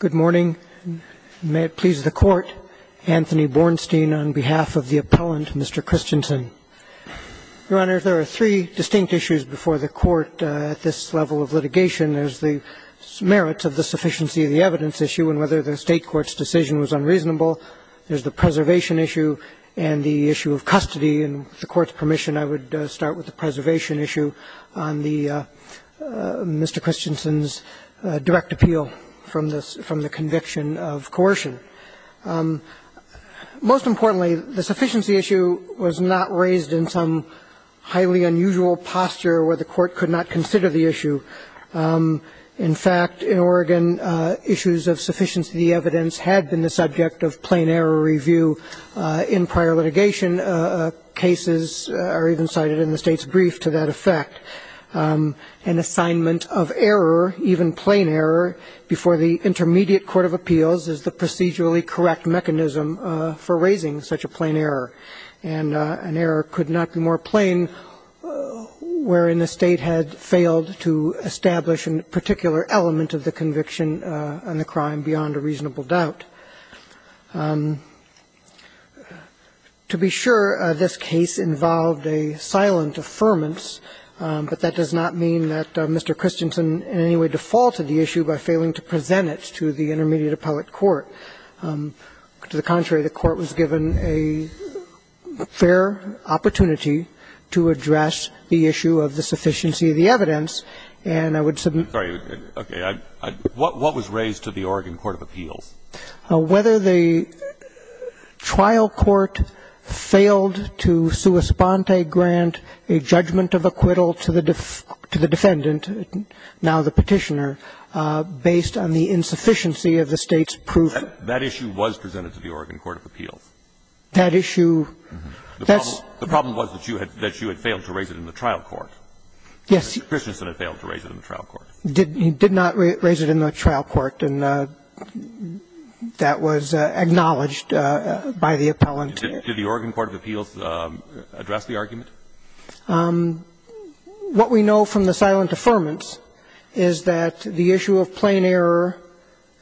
Good morning. May it please the Court, Anthony Bornstein on behalf of the appellant, Mr. Christensen. Your Honor, there are three distinct issues before the Court at this level of litigation. There's the merits of the sufficiency of the evidence issue and whether the State Court's decision was unreasonable. There's the preservation issue and the issue of custody. And with the Court's permission, I would start with the preservation issue on Mr. Christensen's direct appeal from the conviction of coercion. Most importantly, the sufficiency issue was not raised in some highly unusual posture where the Court could not consider the issue. In fact, in Oregon, issues of sufficiency of the evidence had been the subject of plain error review in prior litigation. And cases are even cited in the State's brief to that effect. An assignment of error, even plain error, before the intermediate court of appeals is the procedurally correct mechanism for raising such a plain error. And an error could not be more plain wherein the State had failed to establish a particular element of the conviction and the crime beyond a reasonable doubt. To be sure, this case involved a silent affirmance, but that does not mean that Mr. Christensen in any way defaulted the issue by failing to present it to the intermediate appellate court. To the contrary, the Court was given a fair opportunity to address the issue of the sufficiency of the evidence, and I would submit to that. Kennedy, what was raised to the Oregon court of appeals? Whether the trial court failed to sua sponte grant a judgment of acquittal to the defendant, now the Petitioner, based on the insufficiency of the State's proof. That issue was presented to the Oregon court of appeals. That issue. The problem was that you had failed to raise it in the trial court. Yes. Mr. Christensen had failed to raise it in the trial court. He did not raise it in the trial court, and that was acknowledged by the appellant. Did the Oregon court of appeals address the argument? What we know from the silent affirmance is that the issue of plain error,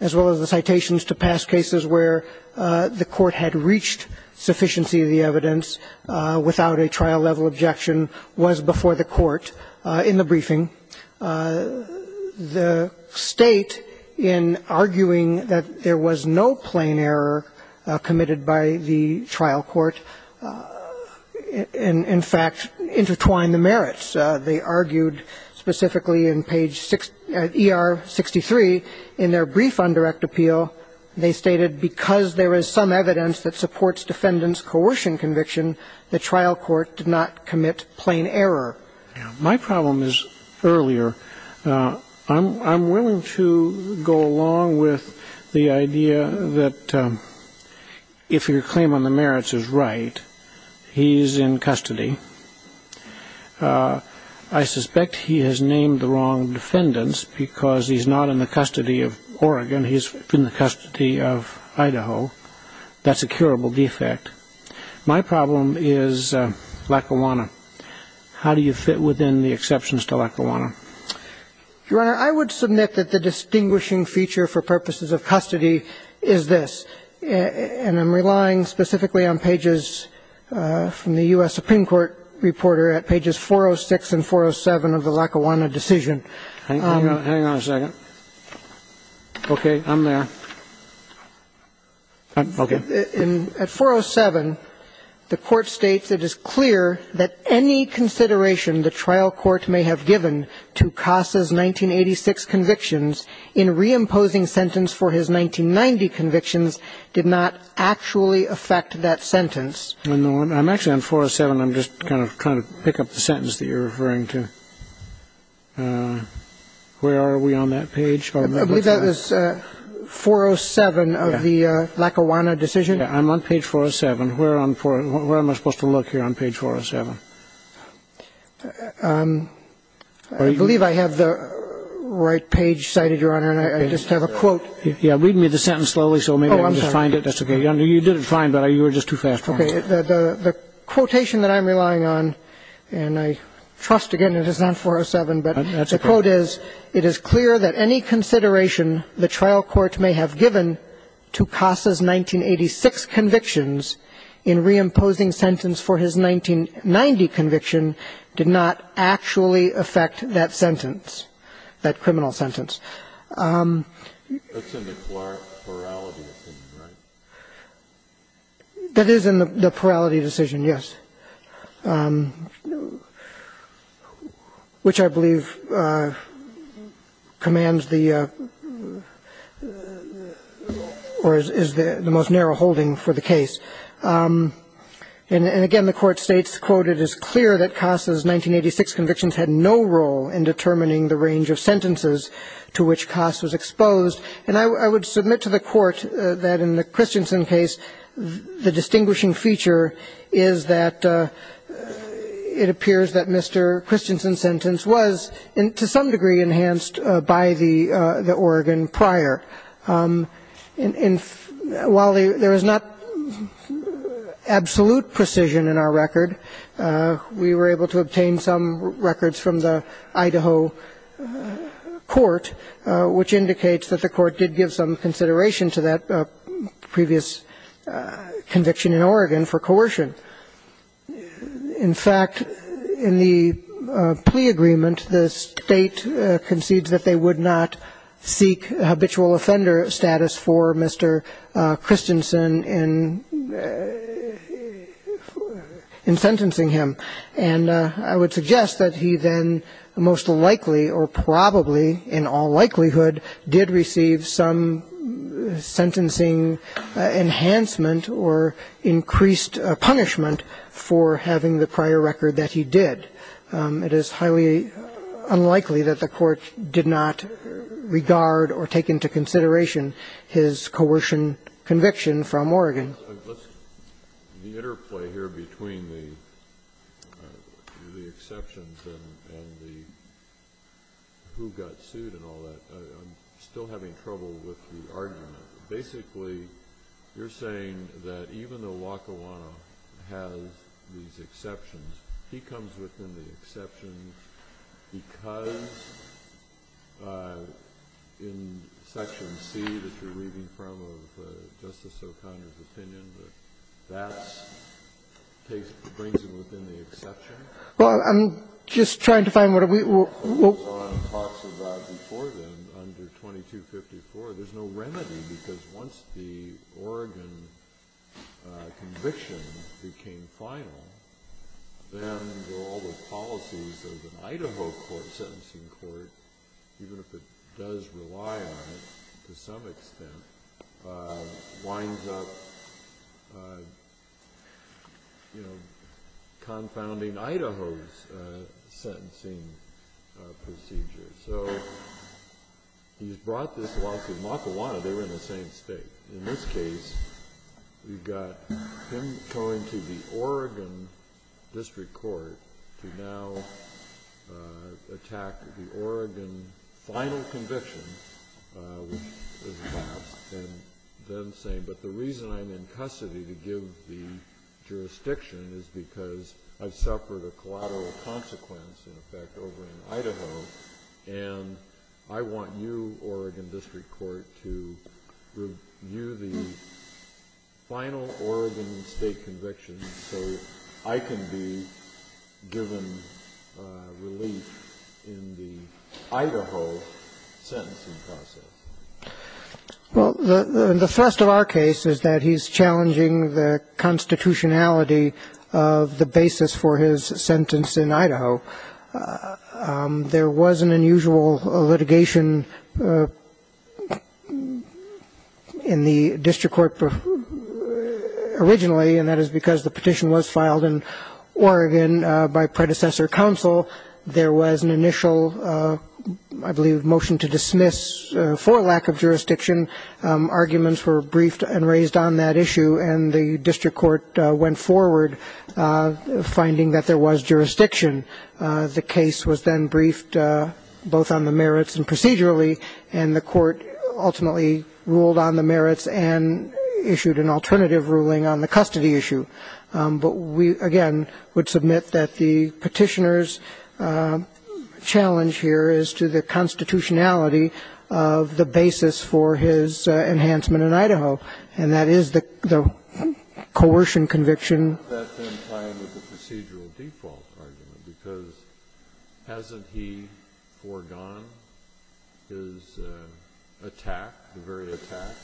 as well as the citations to past cases where the court had reached sufficiency of the evidence without a trial-level objection, was before the court in the briefing. The State, in arguing that there was no plain error committed by the trial court, in fact, intertwined the merits. They argued specifically in page ER63 in their brief on direct appeal. They stated, because there is some evidence that supports defendant's coercion conviction, the trial court did not commit plain error. My problem is earlier. I'm willing to go along with the idea that if your claim on the merits is right, he's in custody. I suspect he has named the wrong defendants because he's not in the custody of Oregon. He's in the custody of Idaho. That's a curable defect. My problem is Lackawanna. How do you fit within the exceptions to Lackawanna? Your Honor, I would submit that the distinguishing feature for purposes of custody is this, and I'm relying specifically on pages from the U.S. Supreme Court reporter at pages 406 and 407 of the Lackawanna decision. Hang on a second. Okay. I'm there. Okay. At 407, the court states, I'm actually on 407. I'm just kind of trying to pick up the sentence that you're referring to. Where are we on that page? I believe that was 407 of the Lackawanna decision. Yeah. I'm on page 407. I'm on page 407 of the Lackawanna decision. I believe I have the right page cited, Your Honor, and I just have a quote. Yeah. Read me the sentence slowly so maybe I can just find it. That's okay. You did it fine, but you were just too fast. Okay. The quotation that I'm relying on, and I trust, again, it is not 407, but the quote is, it is clear that any consideration the trial court may have given to Casa's 1986 convictions in reimposing sentence for his 1990 conviction did not actually affect that sentence, that criminal sentence. That's in the plurality decision, right? That is in the plurality decision, yes. Which I believe commands the or is the most narrow holding for the case. And again, the court states, quote, it is clear that Casa's 1986 convictions had no role in determining the range of sentences to which Casa was exposed. And I would submit to the court that in the Christensen case, the distinguishing feature is that it appears that Mr. Christensen's sentence was, to some degree, enhanced by the organ prior. And while there is not absolute precision in our record, we were able to obtain some records from the Idaho court, which indicates that the court did give some consideration to that previous conviction in Oregon for coercion. In fact, in the plea agreement, the state concedes that they would not seek habitual offender status for Mr. Christensen in sentencing him. And I would suggest that he then most likely or probably, in all likelihood, did receive some sentencing enhancement or increased punishment for having the prior record that he did. It is highly unlikely that the court did not regard or take into consideration his coercion conviction from Oregon. Kennedy. The interplay here between the exceptions and the who got sued and all that, I'm still having trouble with the argument. Basically, you're saying that even though Wakawano has these exceptions, he comes within the exceptions because in Section C that you're reading from, of Justice O'Connor's opinion, that that case brings him within the exception? Well, I'm just trying to find what are we going to do? Wakawano talks about before then, under 2254, there's no remedy because once the Oregon conviction became final, then all the policies of an Idaho court, a sentencing court, even if it does rely on it to some extent, winds up confounding Idaho's sentencing procedure. So he's brought this loss. In Wakawano, they were in the same state. In this case, we've got him going to the Oregon district court to now attack the Oregon final conviction, which is the last, and then saying, but the reason I'm in custody to give the jurisdiction is because I suffered a collateral consequence, in effect, over in Idaho, and I want you, Oregon district court, to review the final Oregon state conviction so I can be given relief in the Idaho sentencing process. Well, the thrust of our case is that he's challenging the constitutionality of the basis for his sentence in Idaho. There was an unusual litigation in the district court originally, and that is because the petition was filed in Oregon by predecessor counsel. There was an initial, I believe, motion to dismiss for lack of jurisdiction. Arguments were briefed and raised on that issue, and the district court went forward, finding that there was jurisdiction. The case was then briefed both on the merits and procedurally, and the court ultimately ruled on the merits and issued an alternative ruling on the custody issue. But we, again, would submit that the petitioner's challenge here is to the constitutionality of the basis for his enhancement in Idaho, and that is the coercion conviction. That's in line with the procedural default argument, because hasn't he foregone his attack, the very attack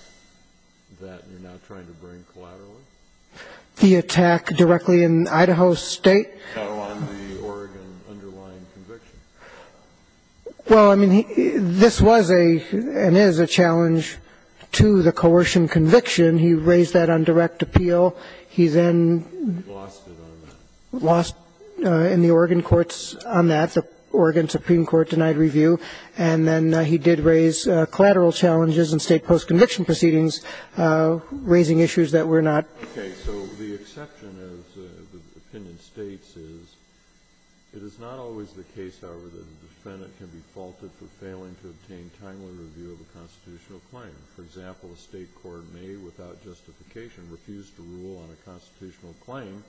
that you're now trying to bring collaterally? The attack directly in Idaho State? No, on the Oregon underlying conviction. Well, I mean, this was a and is a challenge to the coercion conviction. He raised that on direct appeal. He then lost in the Oregon courts on that. The Oregon Supreme Court denied review. And then he did raise collateral challenges in State post-conviction proceedings, raising issues that were not. Okay. So the exception, as the opinion states, is it is not always the case, however, that a defendant can be faulted for failing to obtain timely review of a constitutional claim. For example, a State court may, without justification, refuse to rule on a constitutional claim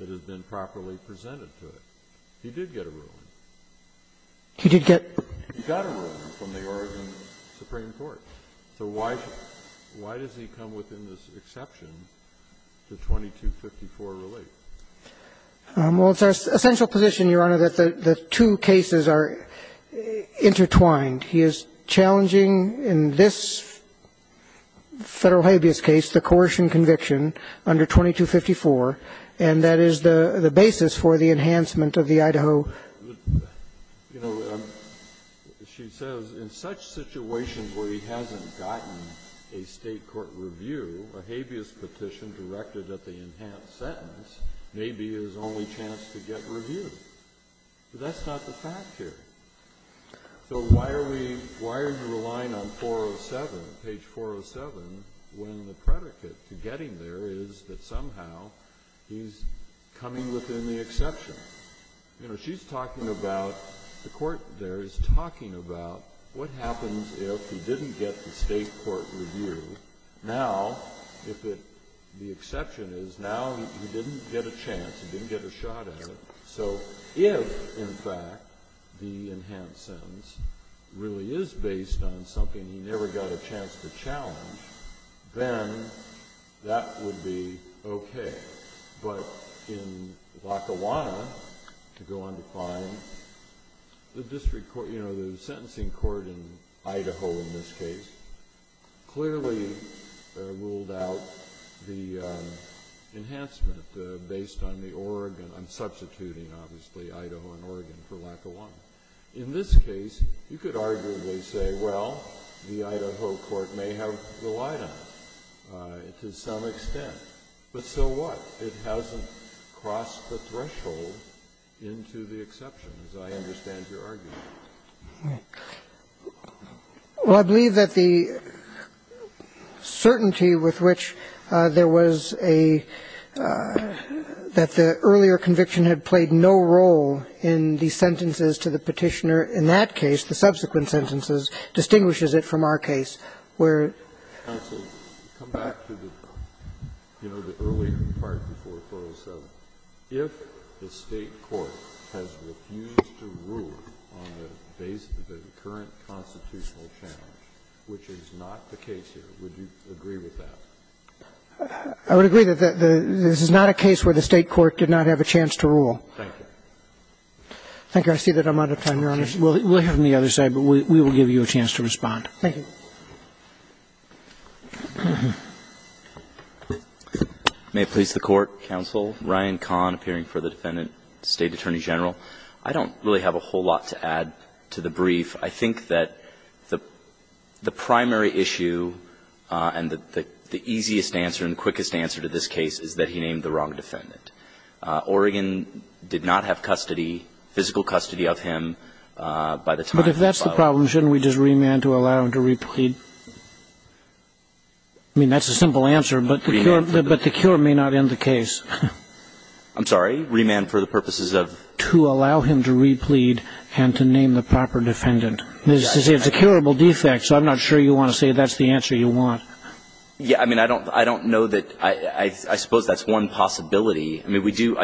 that has been properly presented to it. He did get a ruling. He did get. He got a ruling from the Oregon Supreme Court. So why does he come within this exception to 2254 relief? Well, it's our essential position, Your Honor, that the two cases are intertwined. He is challenging in this Federal habeas case the coercion conviction under 2254, and that is the basis for the enhancement of the Idaho. So, you know, she says in such situations where he hasn't gotten a State court review, a habeas petition directed at the enhanced sentence may be his only chance to get review. But that's not the fact here. So why are we – why are you relying on 407, page 407, when the predicate to getting there is that somehow he's coming within the exception? You know, she's talking about – the court there is talking about what happens if he didn't get the State court review. Now, if it – the exception is now he didn't get a chance. He didn't get a shot at it. So if, in fact, the enhanced sentence really is based on something he never got a chance to challenge, then that would be okay. But in Lackawanna, to go undefined, the district court – you know, the sentencing court in Idaho in this case clearly ruled out the enhancement based on the Oregon – I'm substituting, obviously, Idaho and Oregon for Lackawanna. In this case, you could arguably say, well, the Idaho court may have the light on it to some extent. But so what? It hasn't crossed the threshold into the exception, as I understand your argument. Well, I believe that the certainty with which there was a – that the earlier conviction had played no role in the sentences to the Petitioner in that case, the subsequent sentences, distinguishes it from our case where – Breyer. Counsel, come back to the, you know, the earlier part before it closed. If the State court has refused to rule on the basis of the current constitutional challenge, which is not the case here, would you agree with that? I would agree that this is not a case where the State court did not have a chance to rule. Thank you. Thank you. I see that I'm out of time, Your Honor. We'll hear from the other side, but we will give you a chance to respond. Thank you. May it please the Court, Counsel. Ryan Kahn, appearing for the Defendant, State Attorney General. I don't really have a whole lot to add to the brief. I think that the primary issue and the easiest answer and quickest answer to this case is that he named the wrong defendant. Oregon did not have custody, physical custody of him by the time he filed. But if that's the problem, shouldn't we just remand to allow him to replead? I mean, that's a simple answer, but the cure may not end the case. I'm sorry? Remand for the purposes of? To allow him to replead and to name the proper defendant. It's a curable defect, so I'm not sure you want to say that's the answer you want. Yeah. I mean, I don't know that I suppose that's one possibility. I mean, we do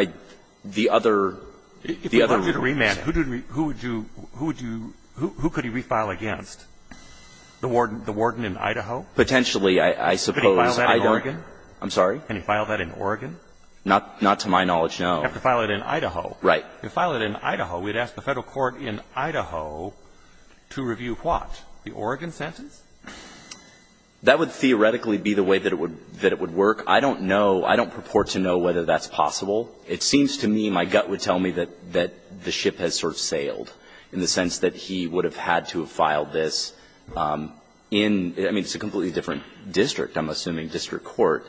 the other. If he were to remand, who would you, who would you, who could he refile against? The warden in Idaho? Potentially, I suppose. Could he file that in Oregon? I'm sorry? Can he file that in Oregon? Not to my knowledge, no. He'd have to file it in Idaho. Right. If he filed it in Idaho, we'd ask the Federal court in Idaho to review what? The Oregon sentence? That would theoretically be the way that it would work. I don't know. I don't purport to know whether that's possible. It seems to me, my gut would tell me that the ship has sort of sailed in the sense that he would have had to have filed this in, I mean, it's a completely different district, I'm assuming, district court.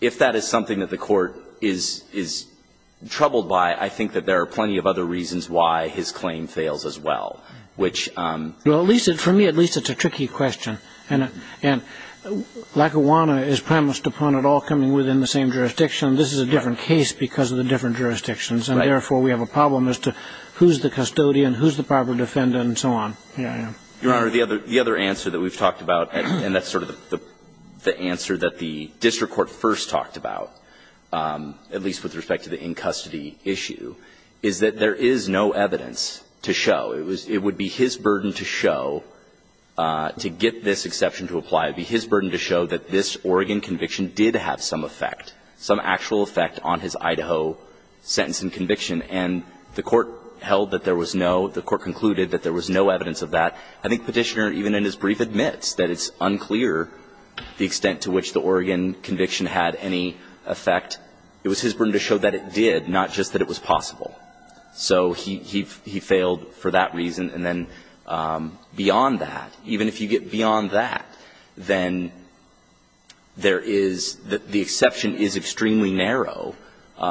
If that is something that the court is troubled by, I think that there are plenty of other reasons why his claim fails as well, which. Well, at least, for me, at least it's a tricky question. And Lackawanna is premised upon it all coming within the same jurisdiction. This is a different case because of the different jurisdictions. Right. And, therefore, we have a problem as to who's the custodian, who's the proper defendant, and so on. Your Honor, the other answer that we've talked about, and that's sort of the answer that the district court first talked about, at least with respect to the in-custody issue, is that there is no evidence to show. It would be his burden to show, to get this exception to apply, it would be his burden to show that this Oregon conviction did have some effect, some actual effect on his Idaho sentence and conviction. And the court held that there was no, the court concluded that there was no evidence of that. I think Petitioner, even in his brief, admits that it's unclear the extent to which the Oregon conviction had any effect. It was his burden to show that it did, not just that it was possible. So he failed for that reason. And then beyond that, even if you get beyond that, then there is, the exception is extremely narrow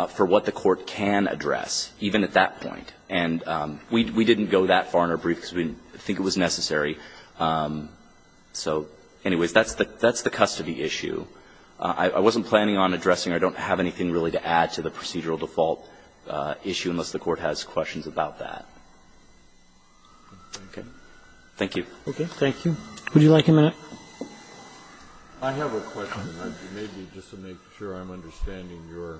for what the court can address, even at that point. And we didn't go that far in our brief because we didn't think it was necessary. So, anyways, that's the custody issue. I wasn't planning on addressing, I don't have anything really to add to the procedural default issue unless the Court has questions about that. Okay. Thank you. Roberts. Thank you. Would you like a minute? Kennedy. I have a question. Maybe just to make sure I'm understanding your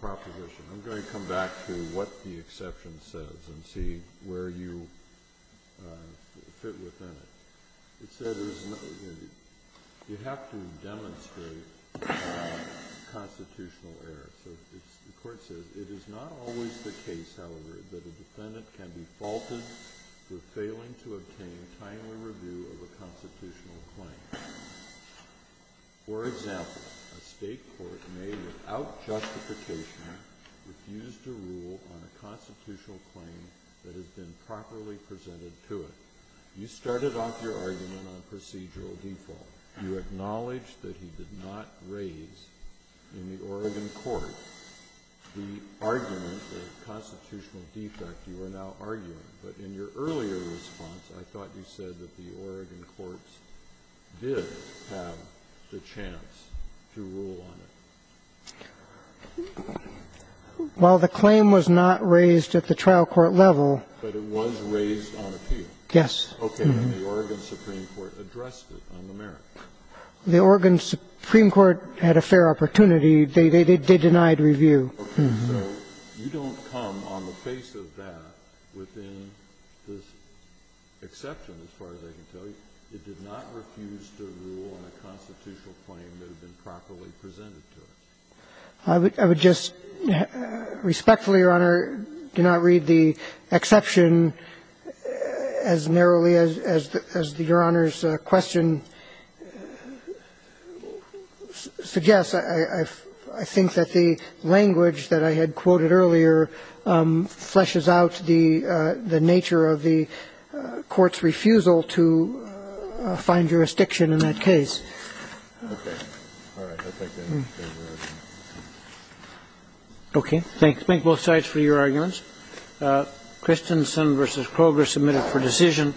proposition. I'm going to come back to what the exception says and see where you fit within it. It says you have to demonstrate constitutional error. So the Court says, it is not always the case, however, that a defendant can be faulted for failing to obtain timely review of a constitutional claim. For example, a state court may, without justification, refuse to rule on a constitutional claim that has been properly presented to it. You started off your argument on procedural default. You acknowledged that he did not raise in the Oregon court the argument of constitutional defect you are now arguing. But in your earlier response, I thought you said that the Oregon courts did have the chance to rule on it. Well, the claim was not raised at the trial court level. But it was raised on appeal. Yes. Okay. And the Oregon Supreme Court addressed it on the merits. The Oregon Supreme Court had a fair opportunity. They denied review. Okay. So you don't come on the face of that within this exception, as far as I can tell you. It did not refuse to rule on a constitutional claim that had been properly presented to it. I would just respectfully, Your Honor, do not read the exception as narrowly as Your Honor's question suggests. I think that the language that I had quoted earlier fleshes out the nature of the Court's refusal to find jurisdiction in that case. Okay. All right. I think that's fair. Okay. Thanks. Thank both sides for your arguments. Christensen v. Kroger submitted for decision.